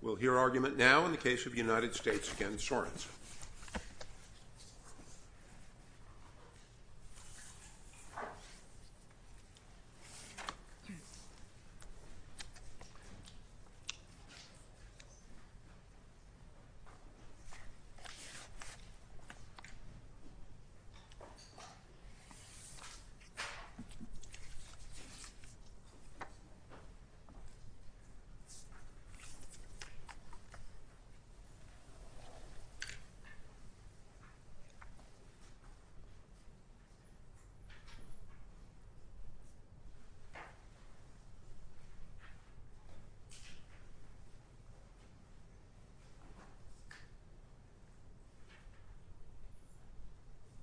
We'll hear argument now in the case of United States v. Sorensen.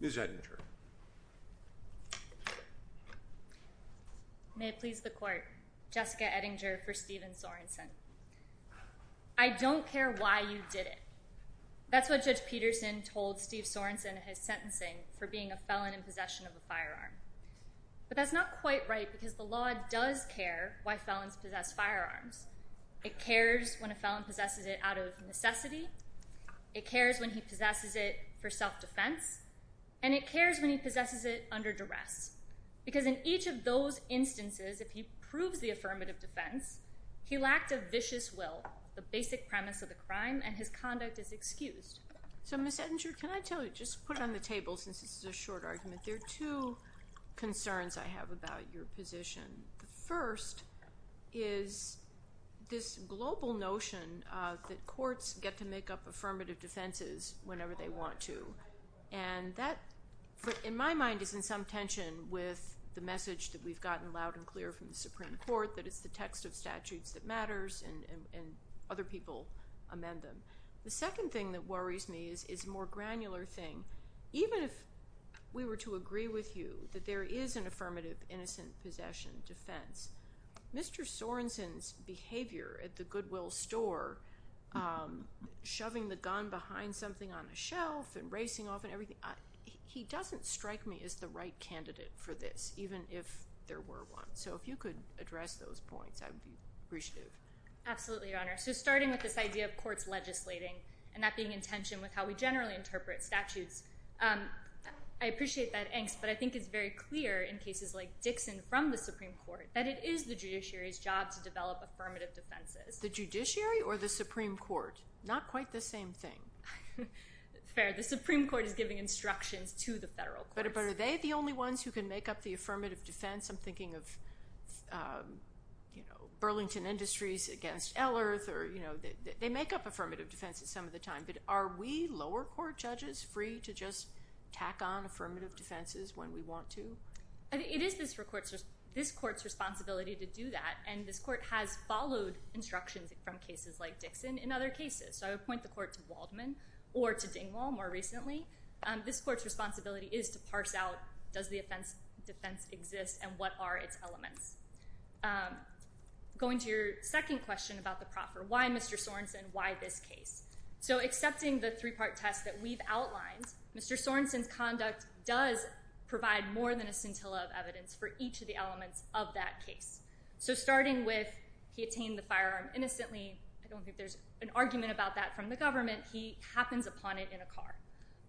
Ms. Edinger Ms. Edinger So Ms. Edinger, can I tell you, just put it on the table since this is a short argument. There are two concerns I have about your position. The first is this global notion that courts get to make up affirmative defenses whenever they want to. And that, in my mind, is in some tension with the message that we've gotten loud and clear from the Supreme Court that it's the text of statutes that matters and other people amend them. The second thing that worries me is a more granular thing. Even if we were to agree with you that there is an affirmative innocent possession defense, Mr. Sorensen's behavior at the Goodwill store, shoving the gun behind something on the shelf and racing off and everything, he doesn't strike me as the right candidate for this, even if there were one. So if you could address those points, I would be appreciative. Absolutely, Your Honor. So starting with this idea of courts legislating and that being in tension with how we generally interpret statutes, I appreciate that angst, but I think it's very clear in cases like Dixon from the Supreme Court that it is the judiciary's job to develop affirmative defenses. The judiciary or the Supreme Court? Not quite the same thing. Fair. The Supreme Court is giving instructions to the federal courts. But are they the only ones who can make up the affirmative defense? I'm thinking of Burlington Industries against Elearth. They make up affirmative defenses some of the time, but are we lower court judges free to just tack on affirmative defenses when we want to? It is this court's responsibility to do that, and this court has followed instructions from cases like Dixon in other cases. So I would point the court to Waldman or to Dingwall more recently. This court's responsibility is to parse out does the defense exist and what are its elements. Going to your second question about the proffer, why Mr. Sorensen, why this case? So accepting the three-part test that we've outlined, Mr. Sorensen's conduct does provide more than a scintilla of evidence for each of the elements of that case. So starting with he obtained the firearm innocently, I don't think there's an argument about that from the government, he happens upon it in a car.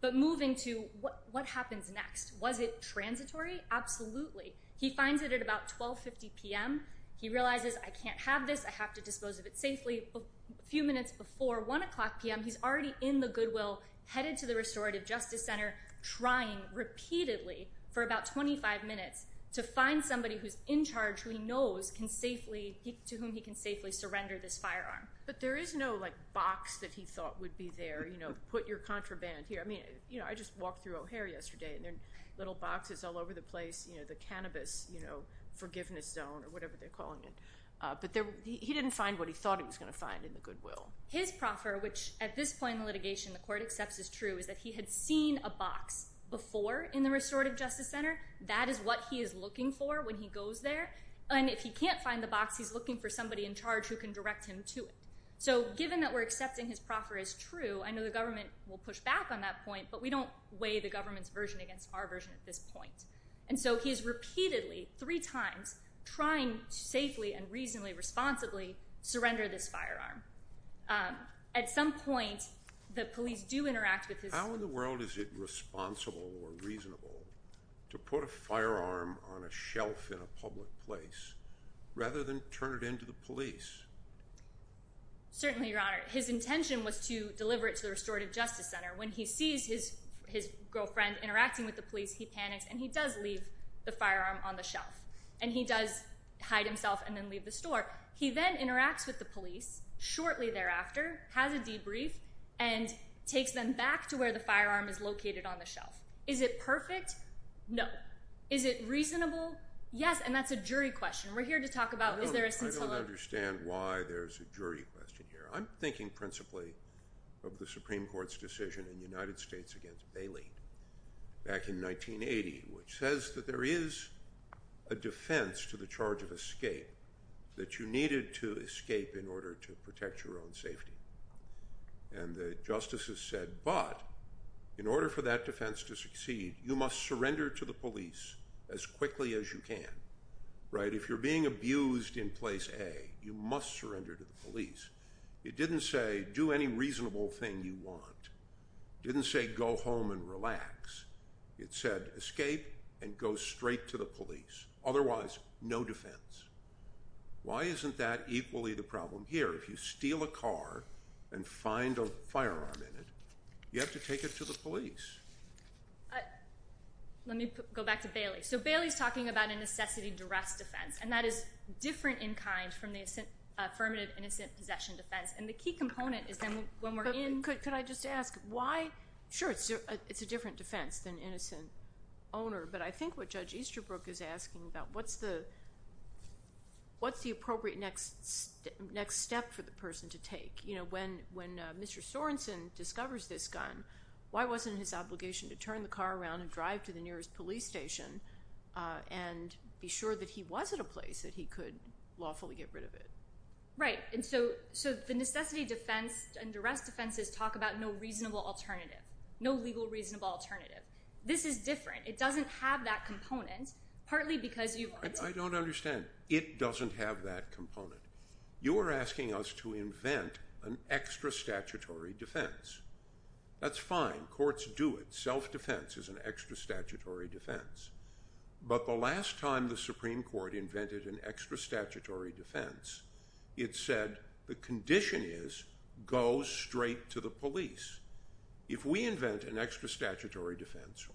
But moving to what happens next, was it transitory? Absolutely. He finds it at about 12.50 p.m. He realizes I can't have this, I have to dispose of it safely. A few minutes before 1 o'clock p.m. he's already in the Goodwill headed to the restorative justice center trying repeatedly for about 25 minutes to find somebody who's in charge who he knows can safely, to whom he can safely surrender this firearm. But there is no, like, box that he thought would be there, you know, put your contraband here. I mean, you know, I just walked through O'Hare yesterday and there are little boxes all over the place, you know, the cannabis, you know, forgiveness zone or whatever they're calling it. But he didn't find what he thought he was going to find in the Goodwill. His proffer, which at this point in the litigation the court accepts is true, is that he had seen a box before in the restorative justice center. That is what he is looking for when he goes there. And if he can't find the box, he's looking for somebody in charge who can direct him to it. So given that we're accepting his proffer is true, I know the government will push back on that point, but we don't weigh the government's version against our version at this point. And so he is repeatedly, three times, trying to safely and reasonably, responsibly surrender this firearm. At some point the police do interact with his. How in the world is it responsible or reasonable to put a firearm on a shelf in a public place rather than turn it into the police? Certainly, Your Honor. His intention was to deliver it to the restorative justice center. When he sees his girlfriend interacting with the police, he panics and he does leave the firearm on the shelf. And he does hide himself and then leave the store. He then interacts with the police shortly thereafter, has a debrief, and takes them back to where the firearm is located on the shelf. Is it perfect? No. Is it reasonable? Yes. And that's a jury question. We're here to talk about is there a scintilla? I don't understand why there's a jury question here. I'm thinking principally of the Supreme Court's decision in the United States against Bailey back in 1980, which says that there is a defense to the charge of escape, that you needed to escape in order to protect your own safety. And the justices said, but in order for that defense to succeed, you must surrender to the police as quickly as you can. If you're being abused in place A, you must surrender to the police. It didn't say do any reasonable thing you want. It didn't say go home and relax. It said escape and go straight to the police. Otherwise, no defense. Why isn't that equally the problem here? If you steal a car and find a firearm in it, you have to take it to the police. Let me go back to Bailey. So Bailey's talking about a necessity to rest defense, and that is different in kind from the affirmative innocent possession defense. And the key component is then when we're in— Could I just ask why? Sure. It's a different defense than innocent owner. But I think what Judge Easterbrook is asking about, what's the appropriate next step for the person to take? When Mr. Sorensen discovers this gun, why wasn't his obligation to turn the car around and drive to the nearest police station and be sure that he was at a place that he could lawfully get rid of it? Right. And so the necessity defense and duress defenses talk about no reasonable alternative, no legal reasonable alternative. This is different. It doesn't have that component, partly because you— I don't understand. It doesn't have that component. You are asking us to invent an extra statutory defense. That's fine. Courts do it. Self-defense is an extra statutory defense. But the last time the Supreme Court invented an extra statutory defense, it said the condition is go straight to the police. If we invent an extra statutory defense,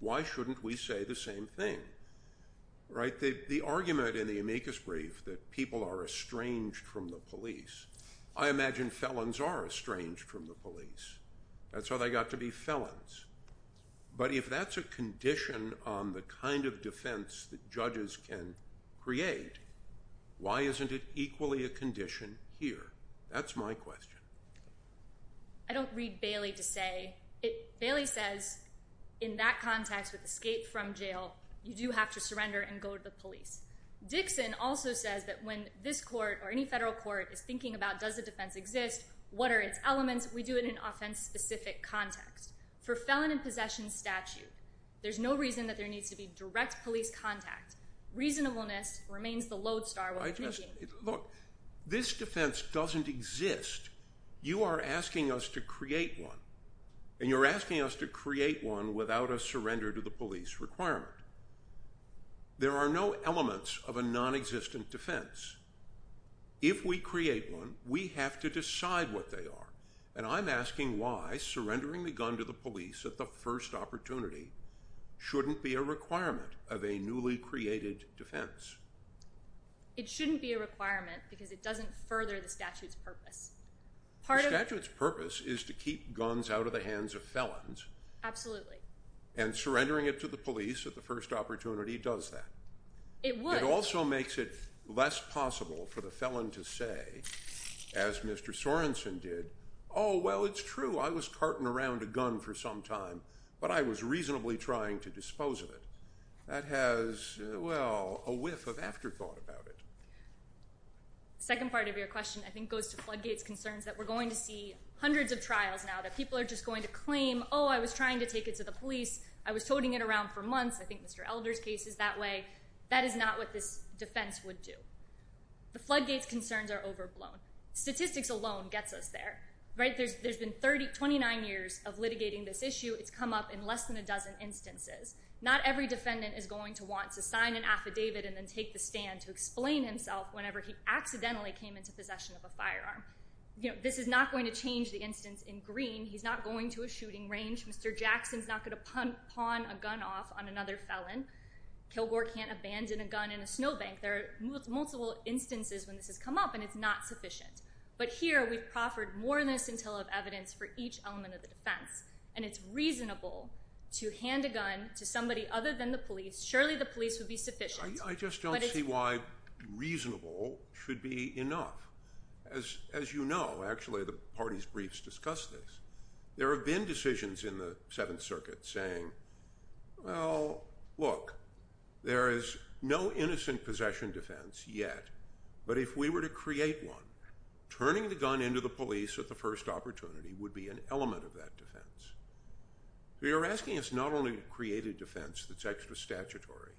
why shouldn't we say the same thing? The argument in the amicus brief that people are estranged from the police, I imagine felons are estranged from the police. That's how they got to be felons. But if that's a condition on the kind of defense that judges can create, why isn't it equally a condition here? That's my question. I don't read Bailey to say. Bailey says in that context with escape from jail, you do have to surrender and go to the police. Dixon also says that when this court or any federal court is thinking about does a defense exist, what are its elements, we do it in an offense-specific context. For felon in possession statute, there's no reason that there needs to be direct police contact. Reasonableness remains the lodestar. Look, this defense doesn't exist. You are asking us to create one, and you're asking us to create one without a surrender to the police requirement. There are no elements of a nonexistent defense. If we create one, we have to decide what they are. And I'm asking why surrendering the gun to the police at the first opportunity shouldn't be a requirement of a newly created defense. It shouldn't be a requirement because it doesn't further the statute's purpose. The statute's purpose is to keep guns out of the hands of felons. Absolutely. And surrendering it to the police at the first opportunity does that. It would. It also makes it less possible for the felon to say, as Mr. Sorenson did, oh, well, it's true, I was carting around a gun for some time, but I was reasonably trying to dispose of it. That has, well, a whiff of afterthought about it. The second part of your question I think goes to Floodgate's concerns that we're going to see hundreds of trials now that people are just going to claim, oh, I was trying to take it to the police, I was toting it around for months, I think Mr. Elder's case is that way. That is not what this defense would do. The Floodgate's concerns are overblown. Statistics alone gets us there. There's been 29 years of litigating this issue. It's come up in less than a dozen instances. Not every defendant is going to want to sign an affidavit and then take the stand to explain himself whenever he accidentally came into possession of a firearm. This is not going to change the instance in Green. He's not going to a shooting range. Mr. Jackson's not going to pawn a gun off on another felon. Kilgore can't abandon a gun in a snowbank. There are multiple instances when this has come up, and it's not sufficient. But here we've proffered more than a scintilla of evidence for each element of the defense, and it's reasonable to hand a gun to somebody other than the police. Surely the police would be sufficient. I just don't see why reasonable should be enough. As you know, actually, the party's briefs discuss this. There have been decisions in the Seventh Circuit saying, well, look, there is no innocent possession defense yet, but if we were to create one, turning the gun into the police at the first opportunity would be an element of that defense. So you're asking us not only to create a defense that's extra statutory,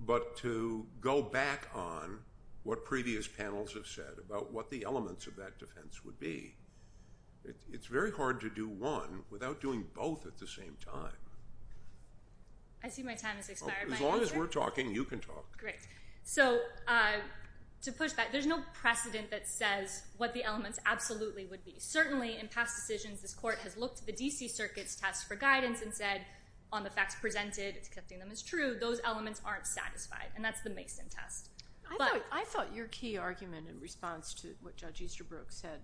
but to go back on what previous panels have said about what the elements of that defense would be. It's very hard to do one without doing both at the same time. I see my time has expired. As long as we're talking, you can talk. Great. So to push back, there's no precedent that says what the elements absolutely would be. Certainly in past decisions, this court has looked at the D.C. Circuit's test for guidance and said on the facts presented, accepting them as true, those elements aren't satisfied, and that's the Mason test. I thought your key argument in response to what Judge Easterbrook said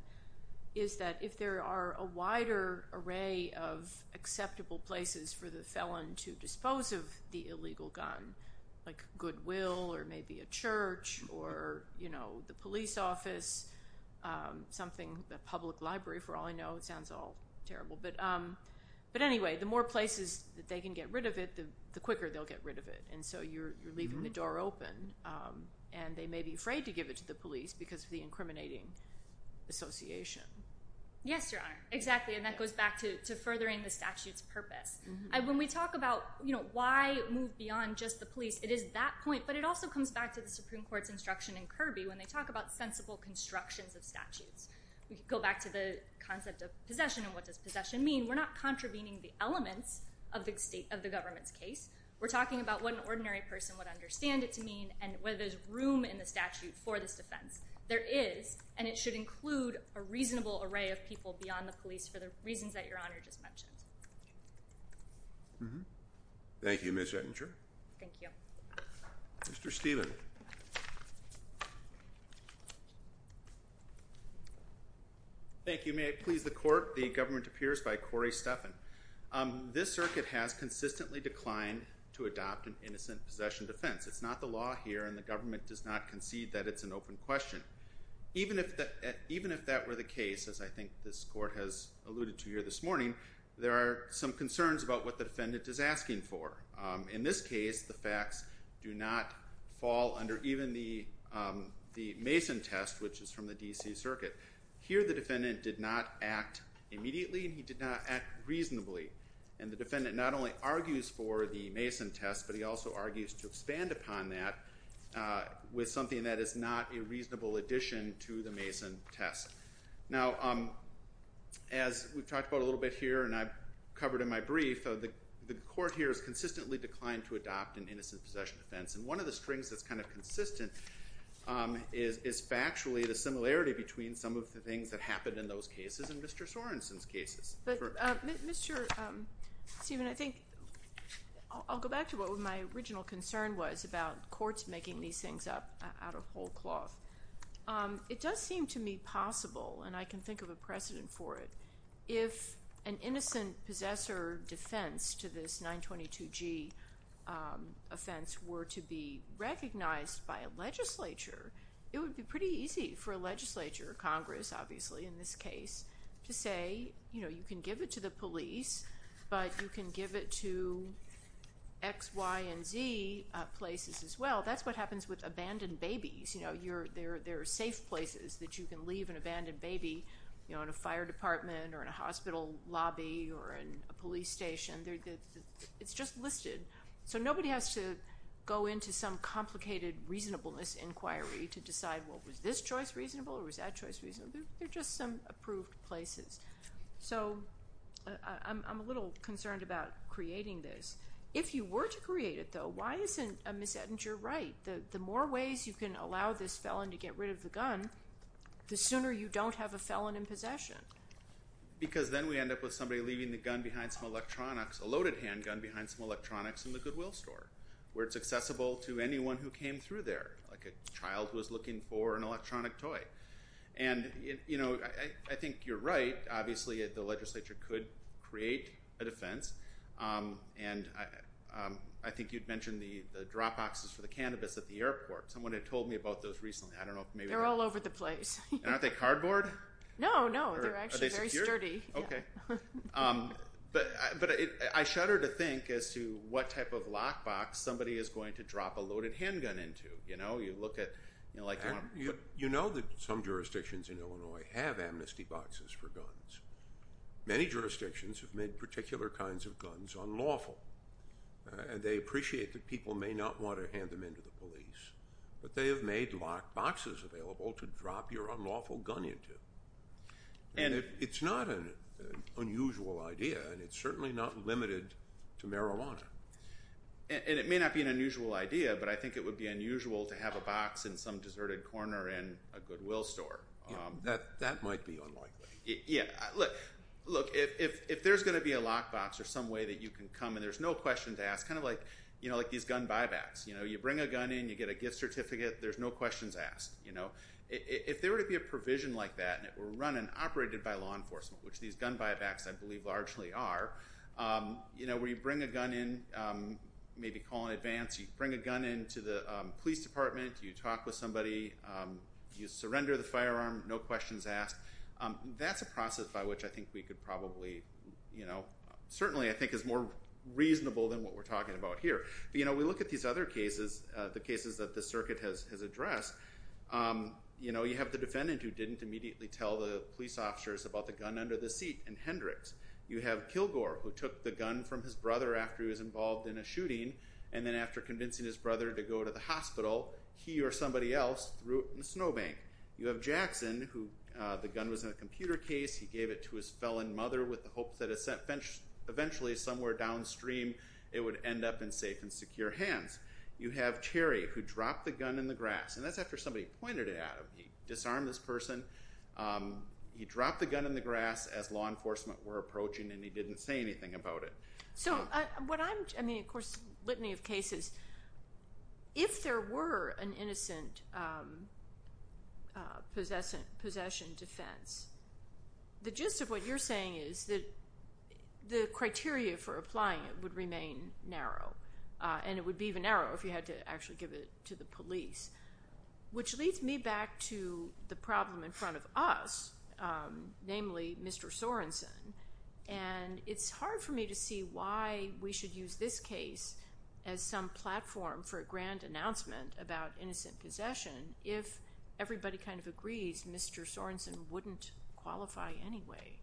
is that if there are a wider array of acceptable places for the felon to dispose of the illegal gun, like Goodwill or maybe a church or, you know, the police office, something, the public library, for all I know, it sounds all terrible. But anyway, the more places that they can get rid of it, the quicker they'll get rid of it. And so you're leaving the door open, and they may be afraid to give it to the police because of the incriminating association. Yes, Your Honor. Exactly, and that goes back to furthering the statute's purpose. When we talk about, you know, why move beyond just the police, it is that point, but it also comes back to the Supreme Court's instruction in Kirby when they talk about sensible constructions of statutes. We could go back to the concept of possession and what does possession mean. We're not contravening the elements of the government's case. We're talking about what an ordinary person would understand it to mean and whether there's room in the statute for this defense. There is, and it should include a reasonable array of people beyond the police for the reasons that Your Honor just mentioned. Thank you, Ms. Ettinger. Thank you. Mr. Steven. Thank you. May it please the Court, the government appears by Corey Steffen. This circuit has consistently declined to adopt an innocent possession defense. It's not the law here and the government does not concede that it's an open question. Even if that were the case, as I think this Court has alluded to here this morning, there are some concerns about what the defendant is asking for. In this case, the facts do not fall under even the Mason test, which is from the D.C. Circuit. Here the defendant did not act immediately and he did not act reasonably. And the defendant not only argues for the Mason test, but he also argues to expand upon that with something that is not a reasonable addition to the Mason test. Now, as we've talked about a little bit here and I've covered in my brief, the Court here has consistently declined to adopt an innocent possession defense. And one of the strings that's kind of consistent is factually the similarity between some of the things that happened in those cases and Mr. Sorensen's cases. But, Mr. Steven, I think I'll go back to what my original concern was about courts making these things up out of whole cloth. It does seem to me possible, and I can think of a precedent for it, if an innocent possessor defense to this 922G offense were to be recognized by a legislature, it would be pretty easy for a legislature, Congress obviously in this case, to say, you know, you can give it to the police, but you can give it to X, Y, and Z places as well. That's what happens with abandoned babies. You know, there are safe places that you can leave an abandoned baby, you know, in a fire department or in a hospital lobby or in a police station. It's just listed. So nobody has to go into some complicated reasonableness inquiry to decide, well, was this choice reasonable or was that choice reasonable? They're just some approved places. So I'm a little concerned about creating this. If you were to create it, though, why isn't Ms. Edinger right? The more ways you can allow this felon to get rid of the gun, the sooner you don't have a felon in possession. Because then we end up with somebody leaving the gun behind some electronics, a loaded handgun behind some electronics in the Goodwill store where it's accessible to anyone who came through there, like a child who was looking for an electronic toy. And, you know, I think you're right. Obviously the legislature could create a defense. And I think you'd mentioned the drop boxes for the cannabis at the airport. Someone had told me about those recently. They're all over the place. Aren't they cardboard? No, no. They're actually very sturdy. Okay. But I shudder to think as to what type of lock box somebody is going to drop a loaded handgun into. You know, you look at, you know, like you want to put it in. You know that some jurisdictions in Illinois have amnesty boxes for guns. Many jurisdictions have made particular kinds of guns unlawful. And they appreciate that people may not want to hand them in to the police. But they have made lock boxes available to drop your unlawful gun into. And it's not an unusual idea, and it's certainly not limited to marijuana. And it may not be an unusual idea, but I think it would be unusual to have a box in some deserted corner in a Goodwill store. Yeah, that might be unlikely. Yeah, look, if there's going to be a lock box or some way that you can come and there's no question to ask, kind of like these gun buybacks. You know, you bring a gun in. You get a gift certificate. There's no questions asked, you know. If there were to be a provision like that and it were run and operated by law enforcement, which these gun buybacks I believe largely are, you know, where you bring a gun in, maybe call in advance. You bring a gun in to the police department. You talk with somebody. You surrender the firearm. No questions asked. That's a process by which I think we could probably, you know, certainly I think is more reasonable than what we're talking about here. But, you know, we look at these other cases, the cases that the circuit has addressed. You know, you have the defendant who didn't immediately tell the police officers about the gun under the seat in Hendricks. You have Kilgore who took the gun from his brother after he was involved in a shooting, and then after convincing his brother to go to the hospital, he or somebody else threw it in a snowbank. You have Jackson who the gun was in a computer case. He gave it to his felon mother with the hope that eventually somewhere downstream it would end up in safe and secure hands. You have Terry who dropped the gun in the grass, and that's after somebody pointed it at him. He disarmed this person. He dropped the gun in the grass as law enforcement were approaching, and he didn't say anything about it. So what I'm, I mean, of course, litany of cases, if there were an innocent possession defense, the gist of what you're saying is that the criteria for applying it would remain narrow, and it would be even narrower if you had to actually give it to the police, which leads me back to the problem in front of us, namely Mr. Sorenson. And it's hard for me to see why we should use this case as some platform for a grand announcement about innocent possession if everybody kind of agrees Mr. Sorenson wouldn't qualify anyway.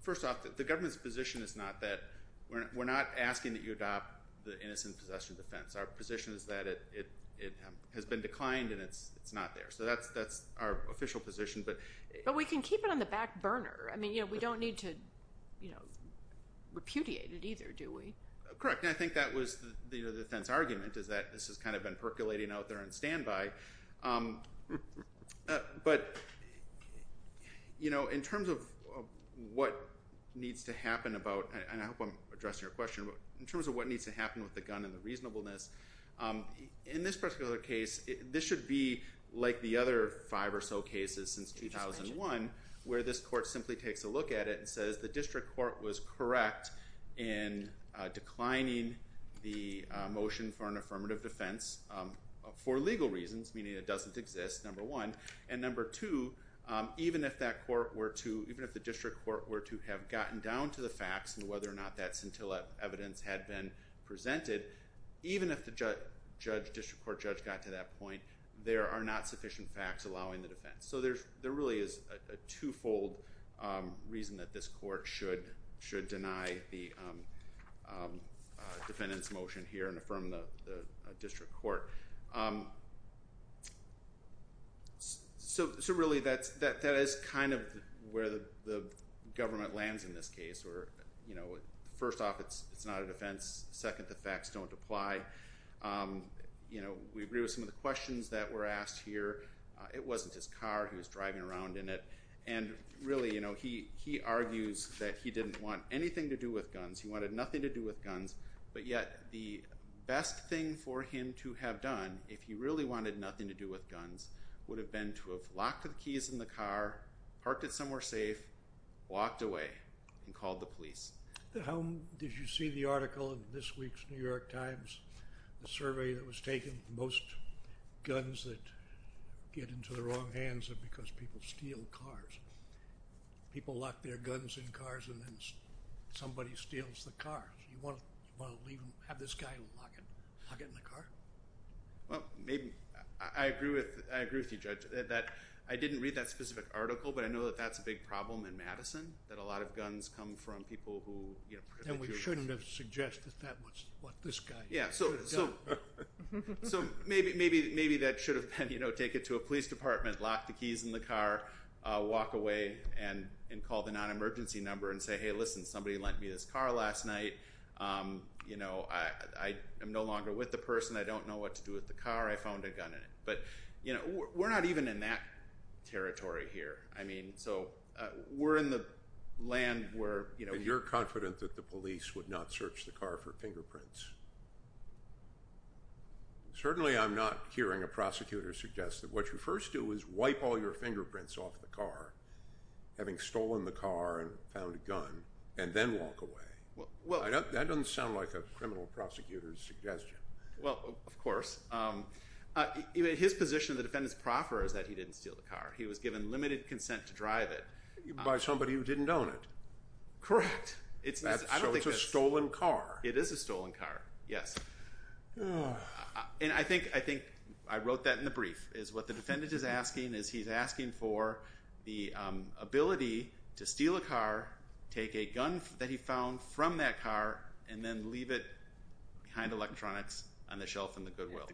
First off, the government's position is not that we're not asking that you adopt the innocent possession defense. Our position is that it has been declined and it's not there. So that's our official position. But we can keep it on the back burner. I mean, we don't need to repudiate it either, do we? Correct, and I think that was the defense argument is that this has kind of been percolating out there on standby. But in terms of what needs to happen about, and I hope I'm addressing your question, but in terms of what needs to happen with the gun and the reasonableness, in this particular case, this should be like the other five or so cases since 2001 where this court simply takes a look at it and says the district court was correct in declining the motion for an affirmative defense for legal reasons, meaning it doesn't exist, number one. And number two, even if that court were to, even if the district court were to have gotten down to the facts and whether or not that scintilla evidence had been presented, even if the district court judge got to that point, there are not sufficient facts allowing the defense. So there really is a twofold reason that this court should deny the defendant's motion here and affirm the district court. So really, that is kind of where the government lands in this case. First off, it's not a defense. Second, the facts don't apply. We agree with some of the questions that were asked here. It wasn't his car. He was driving around in it. And really, he argues that he didn't want anything to do with guns. He wanted nothing to do with guns, but yet the best thing for him to have done, if he really wanted nothing to do with guns, would have been to have locked the keys in the car, parked it somewhere safe, walked away, and called the police. How did you see the article in this week's New York Times, the survey that was taken? Most guns that get into the wrong hands are because people steal cars. People lock their guns in cars and then somebody steals the car. You want to have this guy lock it in the car? Well, I agree with you, Judge, that I didn't read that specific article, but I know that that's a big problem in Madison, that a lot of guns come from people who, you know, Then we shouldn't have suggested that was what this guy should have done. Yeah, so maybe that should have been, you know, take it to a police department, lock the keys in the car, walk away, and call the non-emergency number and say, Hey, listen, somebody lent me this car last night. You know, I am no longer with the person. I don't know what to do with the car. I found a gun in it. But, you know, we're not even in that territory here. I mean, so we're in the land where, you know, And you're confident that the police would not search the car for fingerprints? Certainly I'm not hearing a prosecutor suggest that what you first do is wipe all your fingerprints off the car, having stolen the car and found a gun, and then walk away. That doesn't sound like a criminal prosecutor's suggestion. Well, of course. His position, the defendant's proffer, is that he didn't steal the car. He was given limited consent to drive it. By somebody who didn't own it. Correct. So it's a stolen car. It is a stolen car, yes. And I think I wrote that in the brief. What the defendant is asking is he's asking for the ability to steal a car, take a gun that he found from that car, and then leave it behind electronics on the shelf in the Goodwill.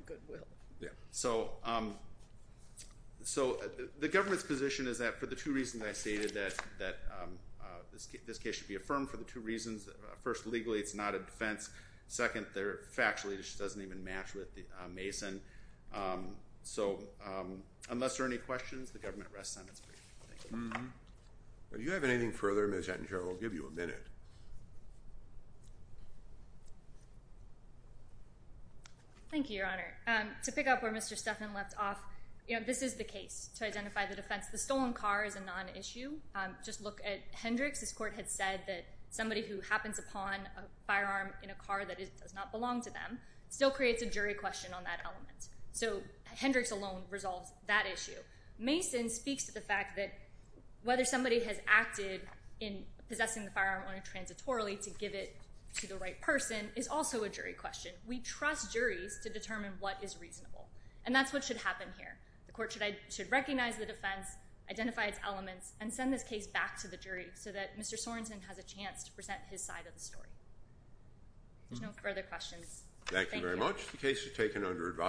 So the government's position is that for the two reasons I stated, that this case should be affirmed for the two reasons. First, legally it's not a defense. Second, factually it just doesn't even match with Mason. So unless there are any questions, the government rests on its brief. Do you have anything further, Ms. Attenborough? I'll give you a minute. Thank you, Your Honor. To pick up where Mr. Stephan left off, this is the case to identify the defense. The stolen car is a non-issue. Just look at Hendricks. This court had said that somebody who happens upon a firearm in a car that does not belong to them still creates a jury question on that element. So Hendricks alone resolves that issue. Mason speaks to the fact that whether somebody has acted in possessing the firearm on a transitorily to give it to the right person is also a jury question. We trust juries to determine what is reasonable, and that's what should happen here. The court should recognize the defense, identify its elements, and send this case back to the jury so that Mr. Sorensen has a chance to present his side of the story. If there's no further questions, thank you. Thank you very much.